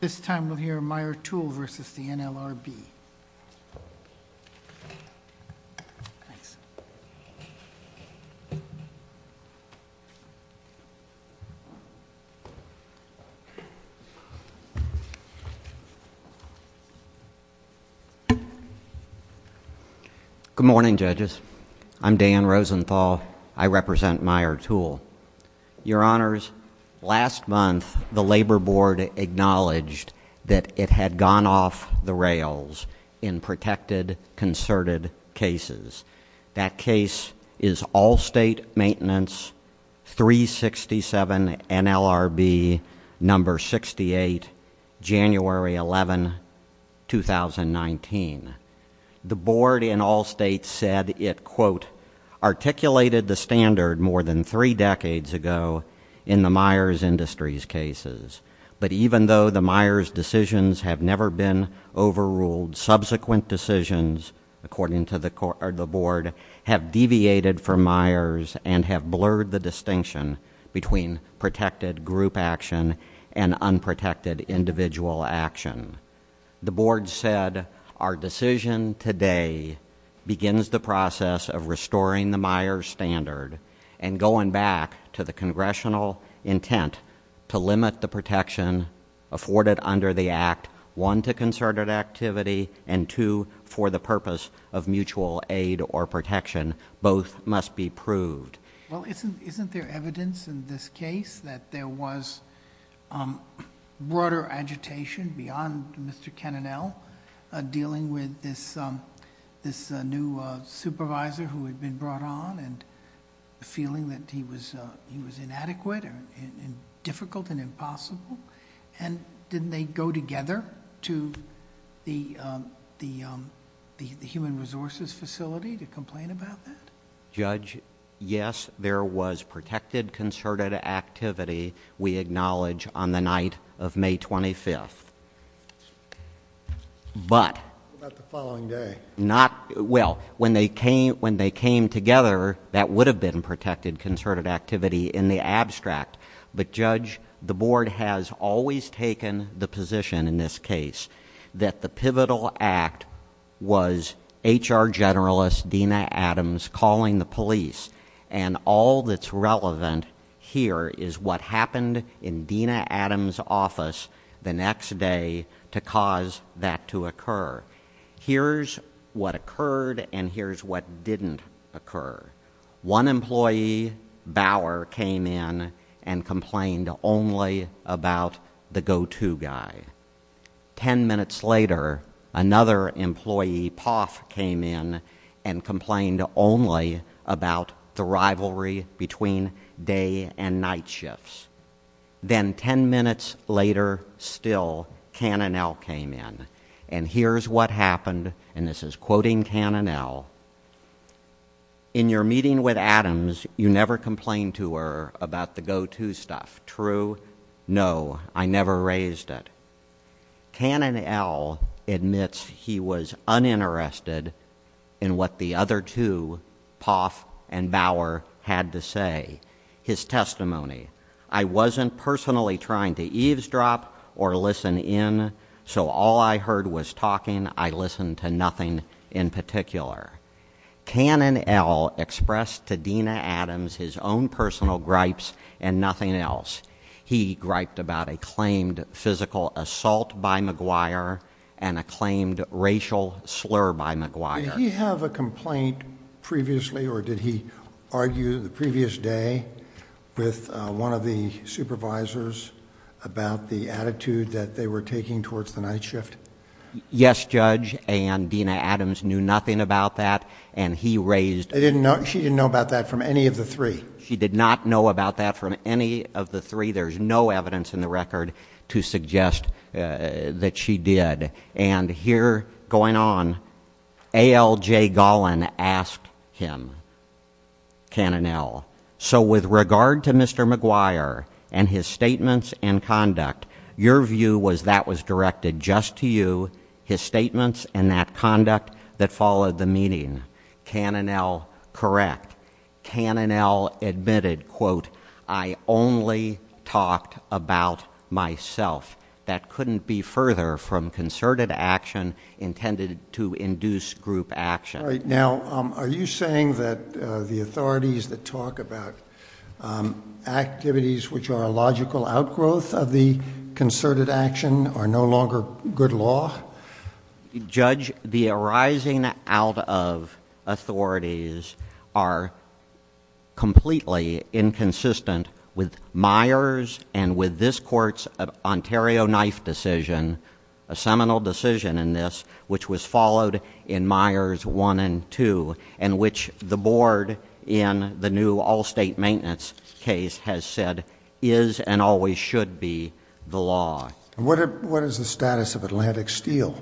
This time we'll hear Meijer Tool v. NLRB. Good morning, judges. I'm Dan Rosenthal. I represent Meijer Tool. Your Honors, last month the Labor Board acknowledged that it had gone off the rails in protected, concerted cases. That case is Allstate Maintenance 367 NLRB No. 68, January 11, 2019. The board in Allstate said it, quote, articulated the standard more than three decades ago in the Meijer Industries cases. But even though the Meijer's decisions have never been overruled, subsequent decisions, according to the board, have deviated from Meijer's and have blurred the distinction between protected group action and unprotected individual action. The board said our decision today begins the process of restoring the Meijer's standard and going back to the congressional intent to limit the protection afforded under the act, one, to concerted activity, and two, for the purpose of mutual aid or protection. Both must be proved. Well, isn't there evidence in this case that there was broader agitation beyond Mr. Kenanell dealing with this new supervisor who had been brought on and feeling that he was inadequate and difficult and impossible? Didn't they go together to the human resources facility to complain about that? Judge, yes, there was protected concerted activity, we acknowledge, on the night of May 25th. But... What about the following day? Well, when they came together, that would have been protected concerted activity in the abstract. But, Judge, the board has always taken the position in this case that the pivotal act was HR Generalist Dena Adams calling the police, and all that's relevant here is what happened in Dena Adams' office the next day to cause that to occur. Here's what occurred and here's what didn't occur. One employee, Bauer, came in and complained only about the go-to guy. Ten minutes later, another employee, Poff, came in and complained only about the rivalry between day and night shifts. Then ten minutes later, still, Kenanell came in. And here's what happened, and this is quoting Kenanell. In your meeting with Adams, you never complained to her about the go-to stuff, true? No, I never raised it. Kenanell admits he was uninterested in what the other two, Poff and Bauer, had to say. His testimony, I wasn't personally trying to eavesdrop or listen in, so all I heard was talking. I listened to nothing in particular. Kenanell expressed to Dena Adams his own personal gripes and nothing else. He griped about a claimed physical assault by McGuire and a claimed racial slur by McGuire. Did he have a complaint previously or did he argue the previous day with one of the supervisors about the attitude that they were taking towards the night shift? Yes, Judge, and Dena Adams knew nothing about that and he raised... She didn't know about that from any of the three? She did not know about that from any of the three. There's no evidence in the record to suggest that she did. And here, going on, A. L. J. Gollin asked him, Kenanell, so with regard to Mr. McGuire and his statements and conduct, your view was that was directed just to you, his statements and that conduct that followed the meeting? Kenanell, correct. Kenanell admitted, quote, I only talked about myself. That couldn't be further from concerted action intended to induce group action. Now, are you saying that the authorities that talk about activities which are a logical outgrowth of the concerted action are no longer good law? Judge, the arising out of authorities are completely inconsistent with Myers and with this court's Ontario knife decision, a seminal decision in this, which was followed in Myers 1 and 2, and which the board in the new all-state maintenance case has said is and always should be the law. What is the status of Atlantic Steel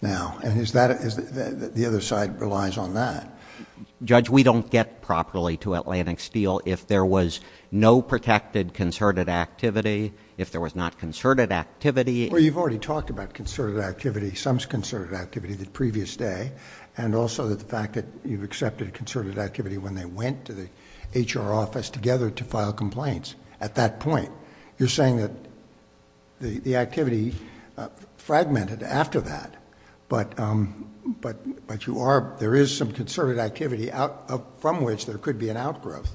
now? And the other side relies on that. Judge, we don't get properly to Atlantic Steel if there was no protected concerted activity, if there was not concerted activity. Well, you've already talked about concerted activity, some concerted activity the previous day, and also the fact that you've accepted concerted activity when they went to the H.R. office together to file complaints. At that point, you're saying that the activity fragmented after that, but there is some concerted activity from which there could be an outgrowth.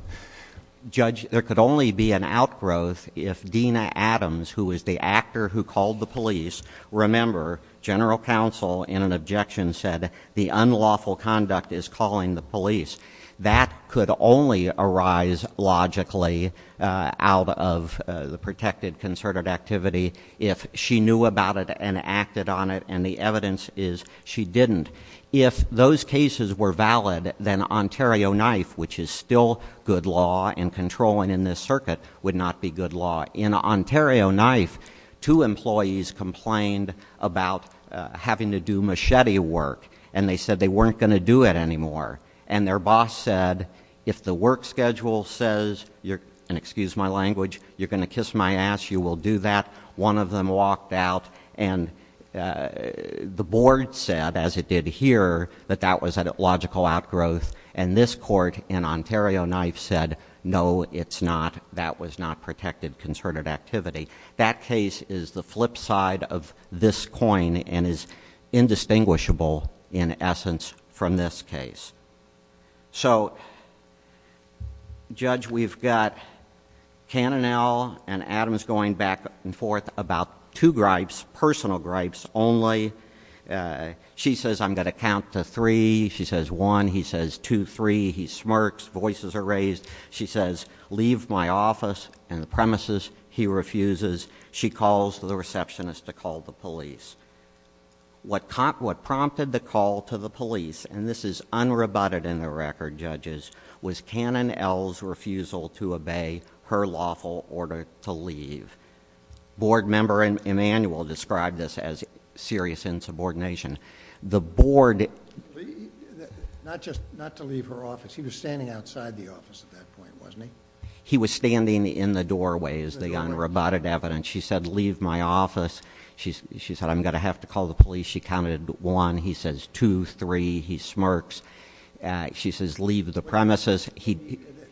Judge, there could only be an outgrowth if Dena Adams, who was the actor who called the police, remember general counsel in an objection said the unlawful conduct is calling the police. That could only arise logically out of the protected concerted activity if she knew about it and acted on it, and the evidence is she didn't. If those cases were valid, then Ontario Knife, which is still good law and controlling in this circuit, would not be good law. In Ontario Knife, two employees complained about having to do machete work, and they said they weren't going to do it anymore, and their boss said, if the work schedule says, and excuse my language, you're going to kiss my ass, you will do that. One of them walked out, and the board said, as it did here, that that was a logical outgrowth, and this court in Ontario Knife said, no, it's not. That was not protected concerted activity. That case is the flip side of this coin and is indistinguishable, in essence, from this case. So, Judge, we've got Cannell and Adams going back and forth about two gripes, personal gripes only. She says, I'm going to count to three. She says, one. He says, two, three. He smirks. Voices are raised. She says, leave my office and the premises. He refuses. She calls the receptionist to call the police. What prompted the call to the police, and this is unrebutted in the record, judges, was Cannell's refusal to obey her lawful order to leave. Board member Emanuel described this as serious insubordination. The board... Not just not to leave her office. He was standing outside the office at that point, wasn't he? He was standing in the doorway is the unrebutted evidence. She said, leave my office. She said, I'm going to have to call the police. She counted one. He says, two, three. He smirks. She says, leave the premises.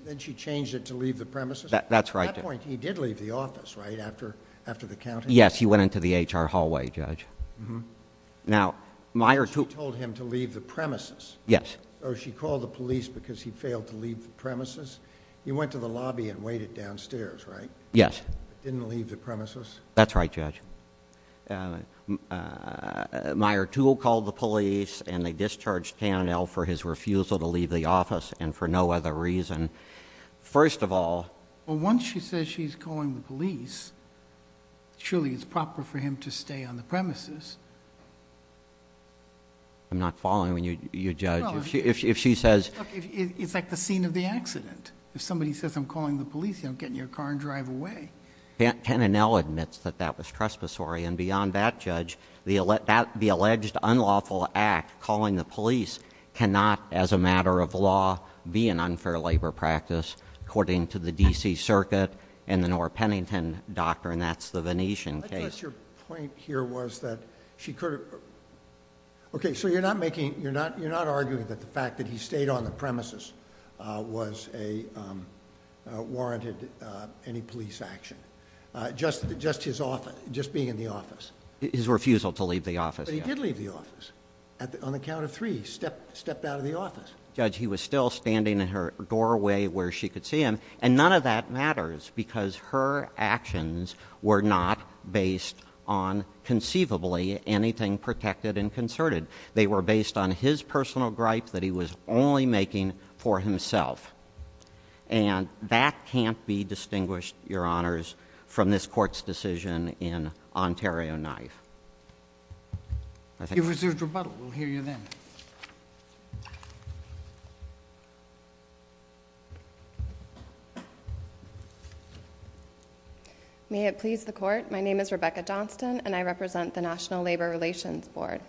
Then she changed it to leave the premises? That's right. At that point, he did leave the office, right, after the counting? Yes. He went into the HR hallway, Judge. Now, my... She told him to leave the premises. Yes. Or she called the police because he failed to leave the premises. He went to the lobby and waited downstairs, right? Yes. Didn't leave the premises? That's right, Judge. Meyer Toole called the police, and they discharged Cannell for his refusal to leave the office, and for no other reason. First of all... Well, once she says she's calling the police, surely it's proper for him to stay on the premises. I'm not following you, Judge. Well... If she says... It's like the scene of the accident. If somebody says, I'm calling the police, you don't get in your car and drive away. Cannell admits that that was trespassory, and beyond that, Judge, the alleged unlawful act, calling the police, cannot, as a matter of law, be an unfair labor practice, according to the D.C. Circuit and the Nora Pennington Doctrine. That's the Venetian case. I guess your point here was that she could have... Okay, so you're not making... was warranted any police action. Just being in the office. His refusal to leave the office. But he did leave the office. On the count of three, he stepped out of the office. Judge, he was still standing in her doorway where she could see him, and none of that matters, because her actions were not based on, conceivably, anything protected and concerted. They were based on his personal gripe that he was only making for himself. And that can't be distinguished, Your Honors, from this Court's decision in Ontario Knife. If there's a rebuttal, we'll hear you then. May it please the Court, my name is Rebecca Johnston, and I represent the National Labor Relations Board.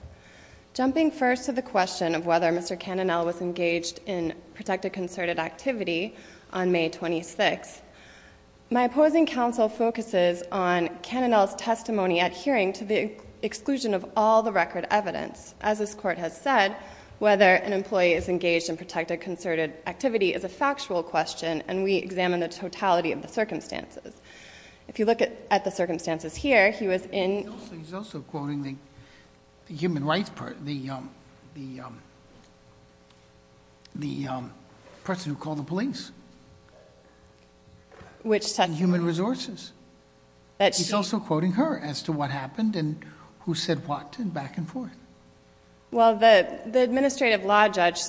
Jumping first to the question of whether Mr. Cannonell was engaged in protected-concerted activity on May 26, my opposing counsel focuses on Cannonell's testimony adhering to the exclusion of all the record evidence. As this Court has said, whether an employee is engaged in protected-concerted activity is a factual question, and we examine the totality of the circumstances. If you look at the circumstances here, he was in... He's also quoting the human rights person, the person who called the police. Which testimony? Human resources. He's also quoting her as to what happened and who said what, and back and forth. Well, the administrative law judge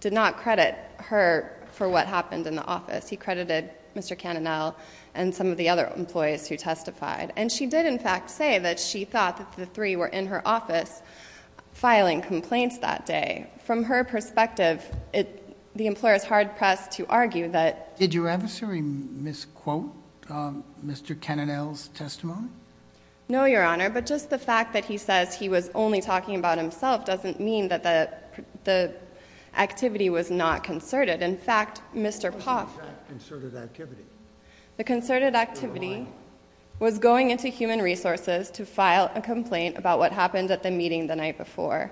did not credit her for what happened in the office. He credited Mr. Cannonell and some of the other employees who testified. And she did, in fact, say that she thought that the three were in her office filing complaints that day. From her perspective, the employer is hard-pressed to argue that... Did your adversary misquote Mr. Cannonell's testimony? No, Your Honor, but just the fact that he says he was only talking about himself doesn't mean that the activity was not concerted. In fact, Mr. Poff... What was the exact concerted activity? The concerted activity was going into human resources to file a complaint about what happened at the meeting the night before.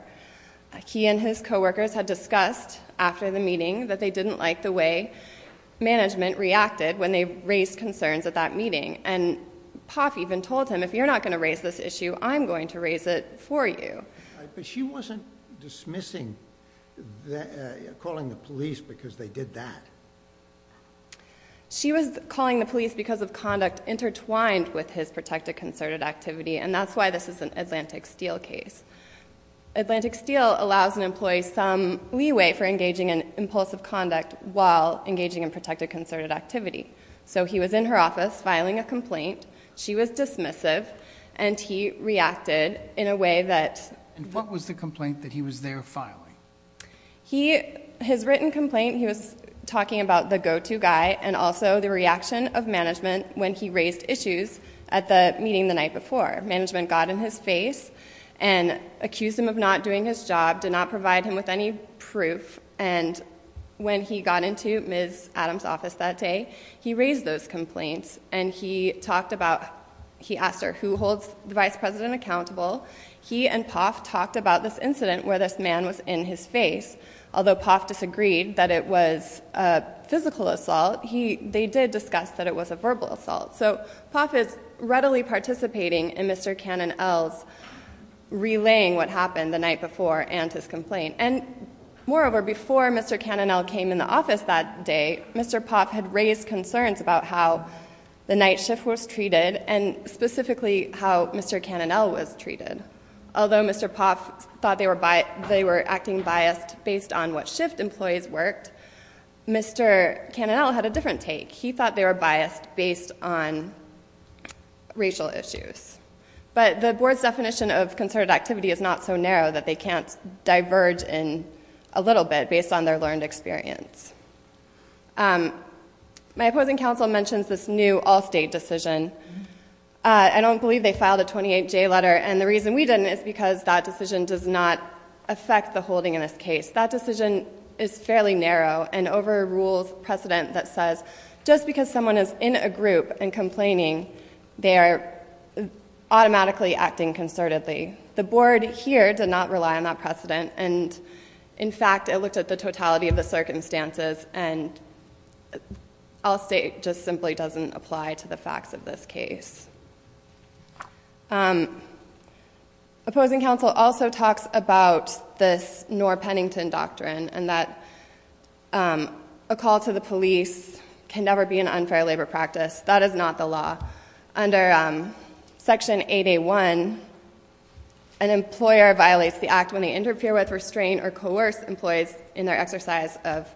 He and his co-workers had discussed after the meeting that they didn't like the way management reacted when they raised concerns at that meeting. And Poff even told him, if you're not going to raise this issue, I'm going to raise it for you. But she wasn't dismissing calling the police because they did that. She was calling the police because of conduct intertwined with his protected concerted activity, and that's why this is an Atlantic Steel case. Atlantic Steel allows an employee some leeway for engaging in impulsive conduct while engaging in protected concerted activity. So he was in her office filing a complaint. She was dismissive, and he reacted in a way that... And what was the complaint that he was there filing? His written complaint, he was talking about the go-to guy and also the reaction of management when he raised issues at the meeting the night before. Management got in his face and accused him of not doing his job, did not provide him with any proof. And when he got into Ms. Adams' office that day, he raised those complaints, and he talked about... He asked her, who holds the vice president accountable? He and Poff talked about this incident where this man was in his face. Although Poff disagreed that it was a physical assault, they did discuss that it was a verbal assault. So Poff is readily participating in Mr. Cannonell's relaying what happened the night before and his complaint. And moreover, before Mr. Cannonell came in the office that day, Mr. Poff had raised concerns about how the night shift was treated and specifically how Mr. Cannonell was treated. Although Mr. Poff thought they were acting biased based on what shift employees worked, Mr. Cannonell had a different take. He thought they were biased based on racial issues. But the board's definition of concerted activity is not so narrow that they can't diverge a little bit based on their learned experience. My opposing counsel mentions this new all-state decision. I don't believe they filed a 28-J letter, and the reason we didn't is because that decision does not affect the holding in this case. That decision is fairly narrow and overrules precedent that says just because someone is in a group and complaining, they are automatically acting concertedly. The board here did not rely on that precedent, and in fact, it looked at the totality of the circumstances, and all-state just simply doesn't apply to the facts of this case. Opposing counsel also talks about this Noor-Pennington doctrine and that a call to the police can never be an unfair labor practice. That is not the law. Under Section 8A.1, an employer violates the act when they interfere with, restrain, or coerce employees in their exercise of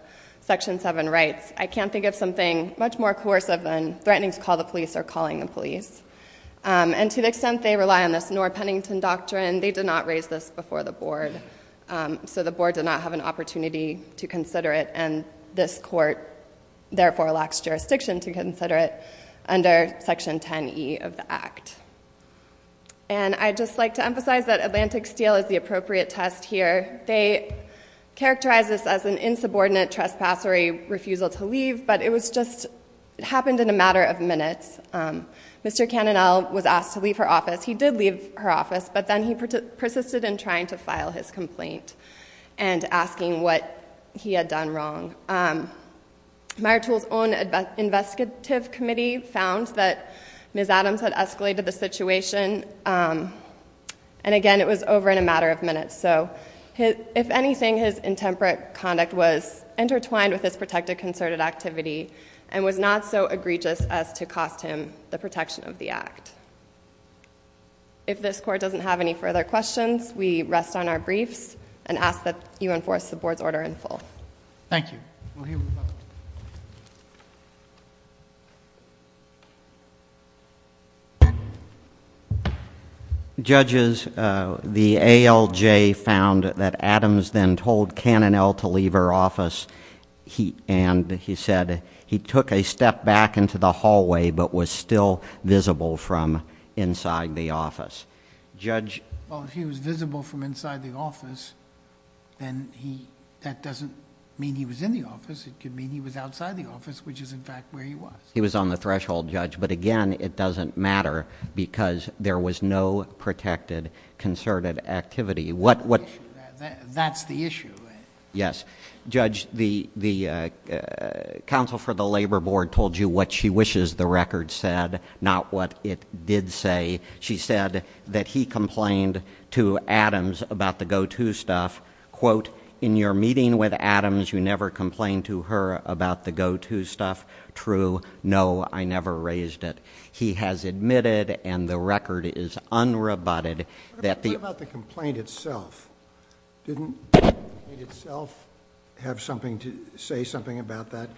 Section 7 rights. I can't think of something much more coercive than threatening to call the police or calling the police. And to the extent they rely on this Noor-Pennington doctrine, they did not raise this before the board. So the board did not have an opportunity to consider it, and this court therefore lacks jurisdiction to consider it under Section 10E of the Act. And I'd just like to emphasize that Atlantic Steel is the appropriate test here. They characterize this as an insubordinate, trespassory refusal to leave, but it was just happened in a matter of minutes. Mr. Cannonell was asked to leave her office. He did leave her office, but then he persisted in trying to file his complaint and asking what he had done wrong. Myrtle's own investigative committee found that Ms. Adams had escalated the situation, and again, it was over in a matter of minutes. So if anything, his intemperate conduct was intertwined with his protected concerted activity and was not so egregious as to cost him the protection of the Act. If this court doesn't have any further questions, we rest on our briefs and ask that you enforce the board's order in full. Thank you. Judges, the ALJ found that Adams then told Cannonell to leave her office, and he said he took a step back into the hallway but was still visible from inside the office. Judge... Well, if he was visible from inside the office, then that doesn't mean he was in the office. It could mean he was outside the office, which is, in fact, where he was. He was on the threshold, Judge, but, again, it doesn't matter because there was no protected concerted activity. What... That's the issue. Yes. Judge, the counsel for the Labor Board told you what she wishes the record said, not what it did say. She said that he complained to Adams about the go-to stuff. Quote, In your meeting with Adams, you never complained to her about the go-to stuff. True. No, I never raised it. He has admitted, and the record is unrebutted, that the... What about the complaint itself? Didn't the complaint itself have something to... say something about that,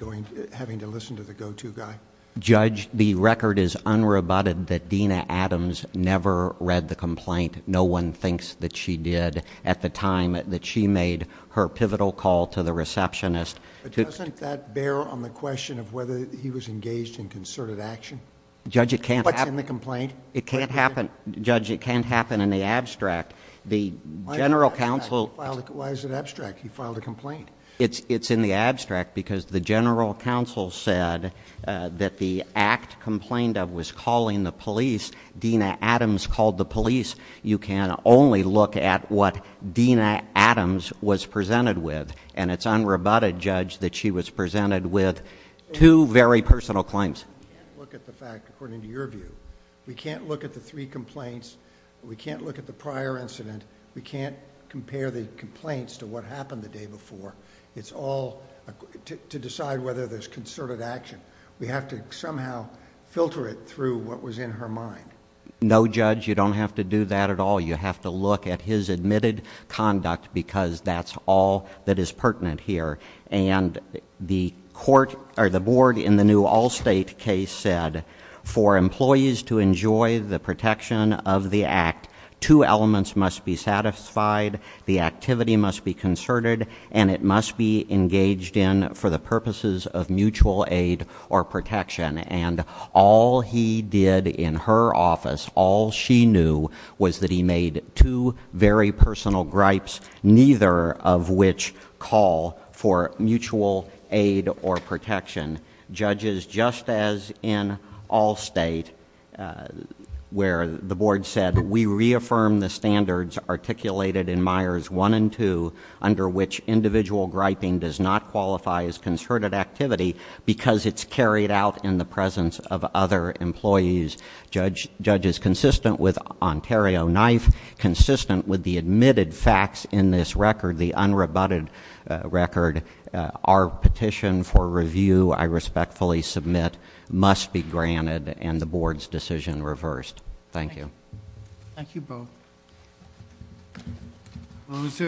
having to listen to the go-to guy? Judge, the record is unrebutted that Dena Adams never read the complaint. No one thinks that she did at the time that she made her pivotal call to the receptionist. But doesn't that bear on the question of whether he was engaged in concerted action? Judge, it can't happen... What's in the complaint? It can't happen... Judge, it can't happen in the abstract. The general counsel... Why is it abstract? He filed a complaint. It's in the abstract because the general counsel said that the act complained of was calling the police. Dena Adams called the police. You can only look at what Dena Adams was presented with, and it's unrebutted, Judge, that she was presented with two very personal claims. We can't look at the fact, according to your view. We can't look at the three complaints. We can't look at the prior incident. We can't compare the complaints to what happened the day before. It's all to decide whether there's concerted action. We have to somehow filter it through what was in her mind. No, Judge, you don't have to do that at all. You have to look at his admitted conduct because that's all that is pertinent here. And the board in the new Allstate case said for employees to enjoy the protection of the act, two elements must be satisfied. The activity must be concerted, and it must be engaged in for the purposes of mutual aid or protection. And all he did in her office, all she knew, was that he made two very personal gripes, neither of which call for mutual aid or protection. Judges, just as in Allstate, where the board said, we reaffirm the standards articulated in Myers 1 and 2, under which individual griping does not qualify as concerted activity because it's carried out in the presence of other employees. Judges, consistent with Ontario Knife, consistent with the admitted facts in this record, the unrebutted record, our petition for review, I respectfully submit, must be granted and the board's decision reversed. Thank you. Thank you both.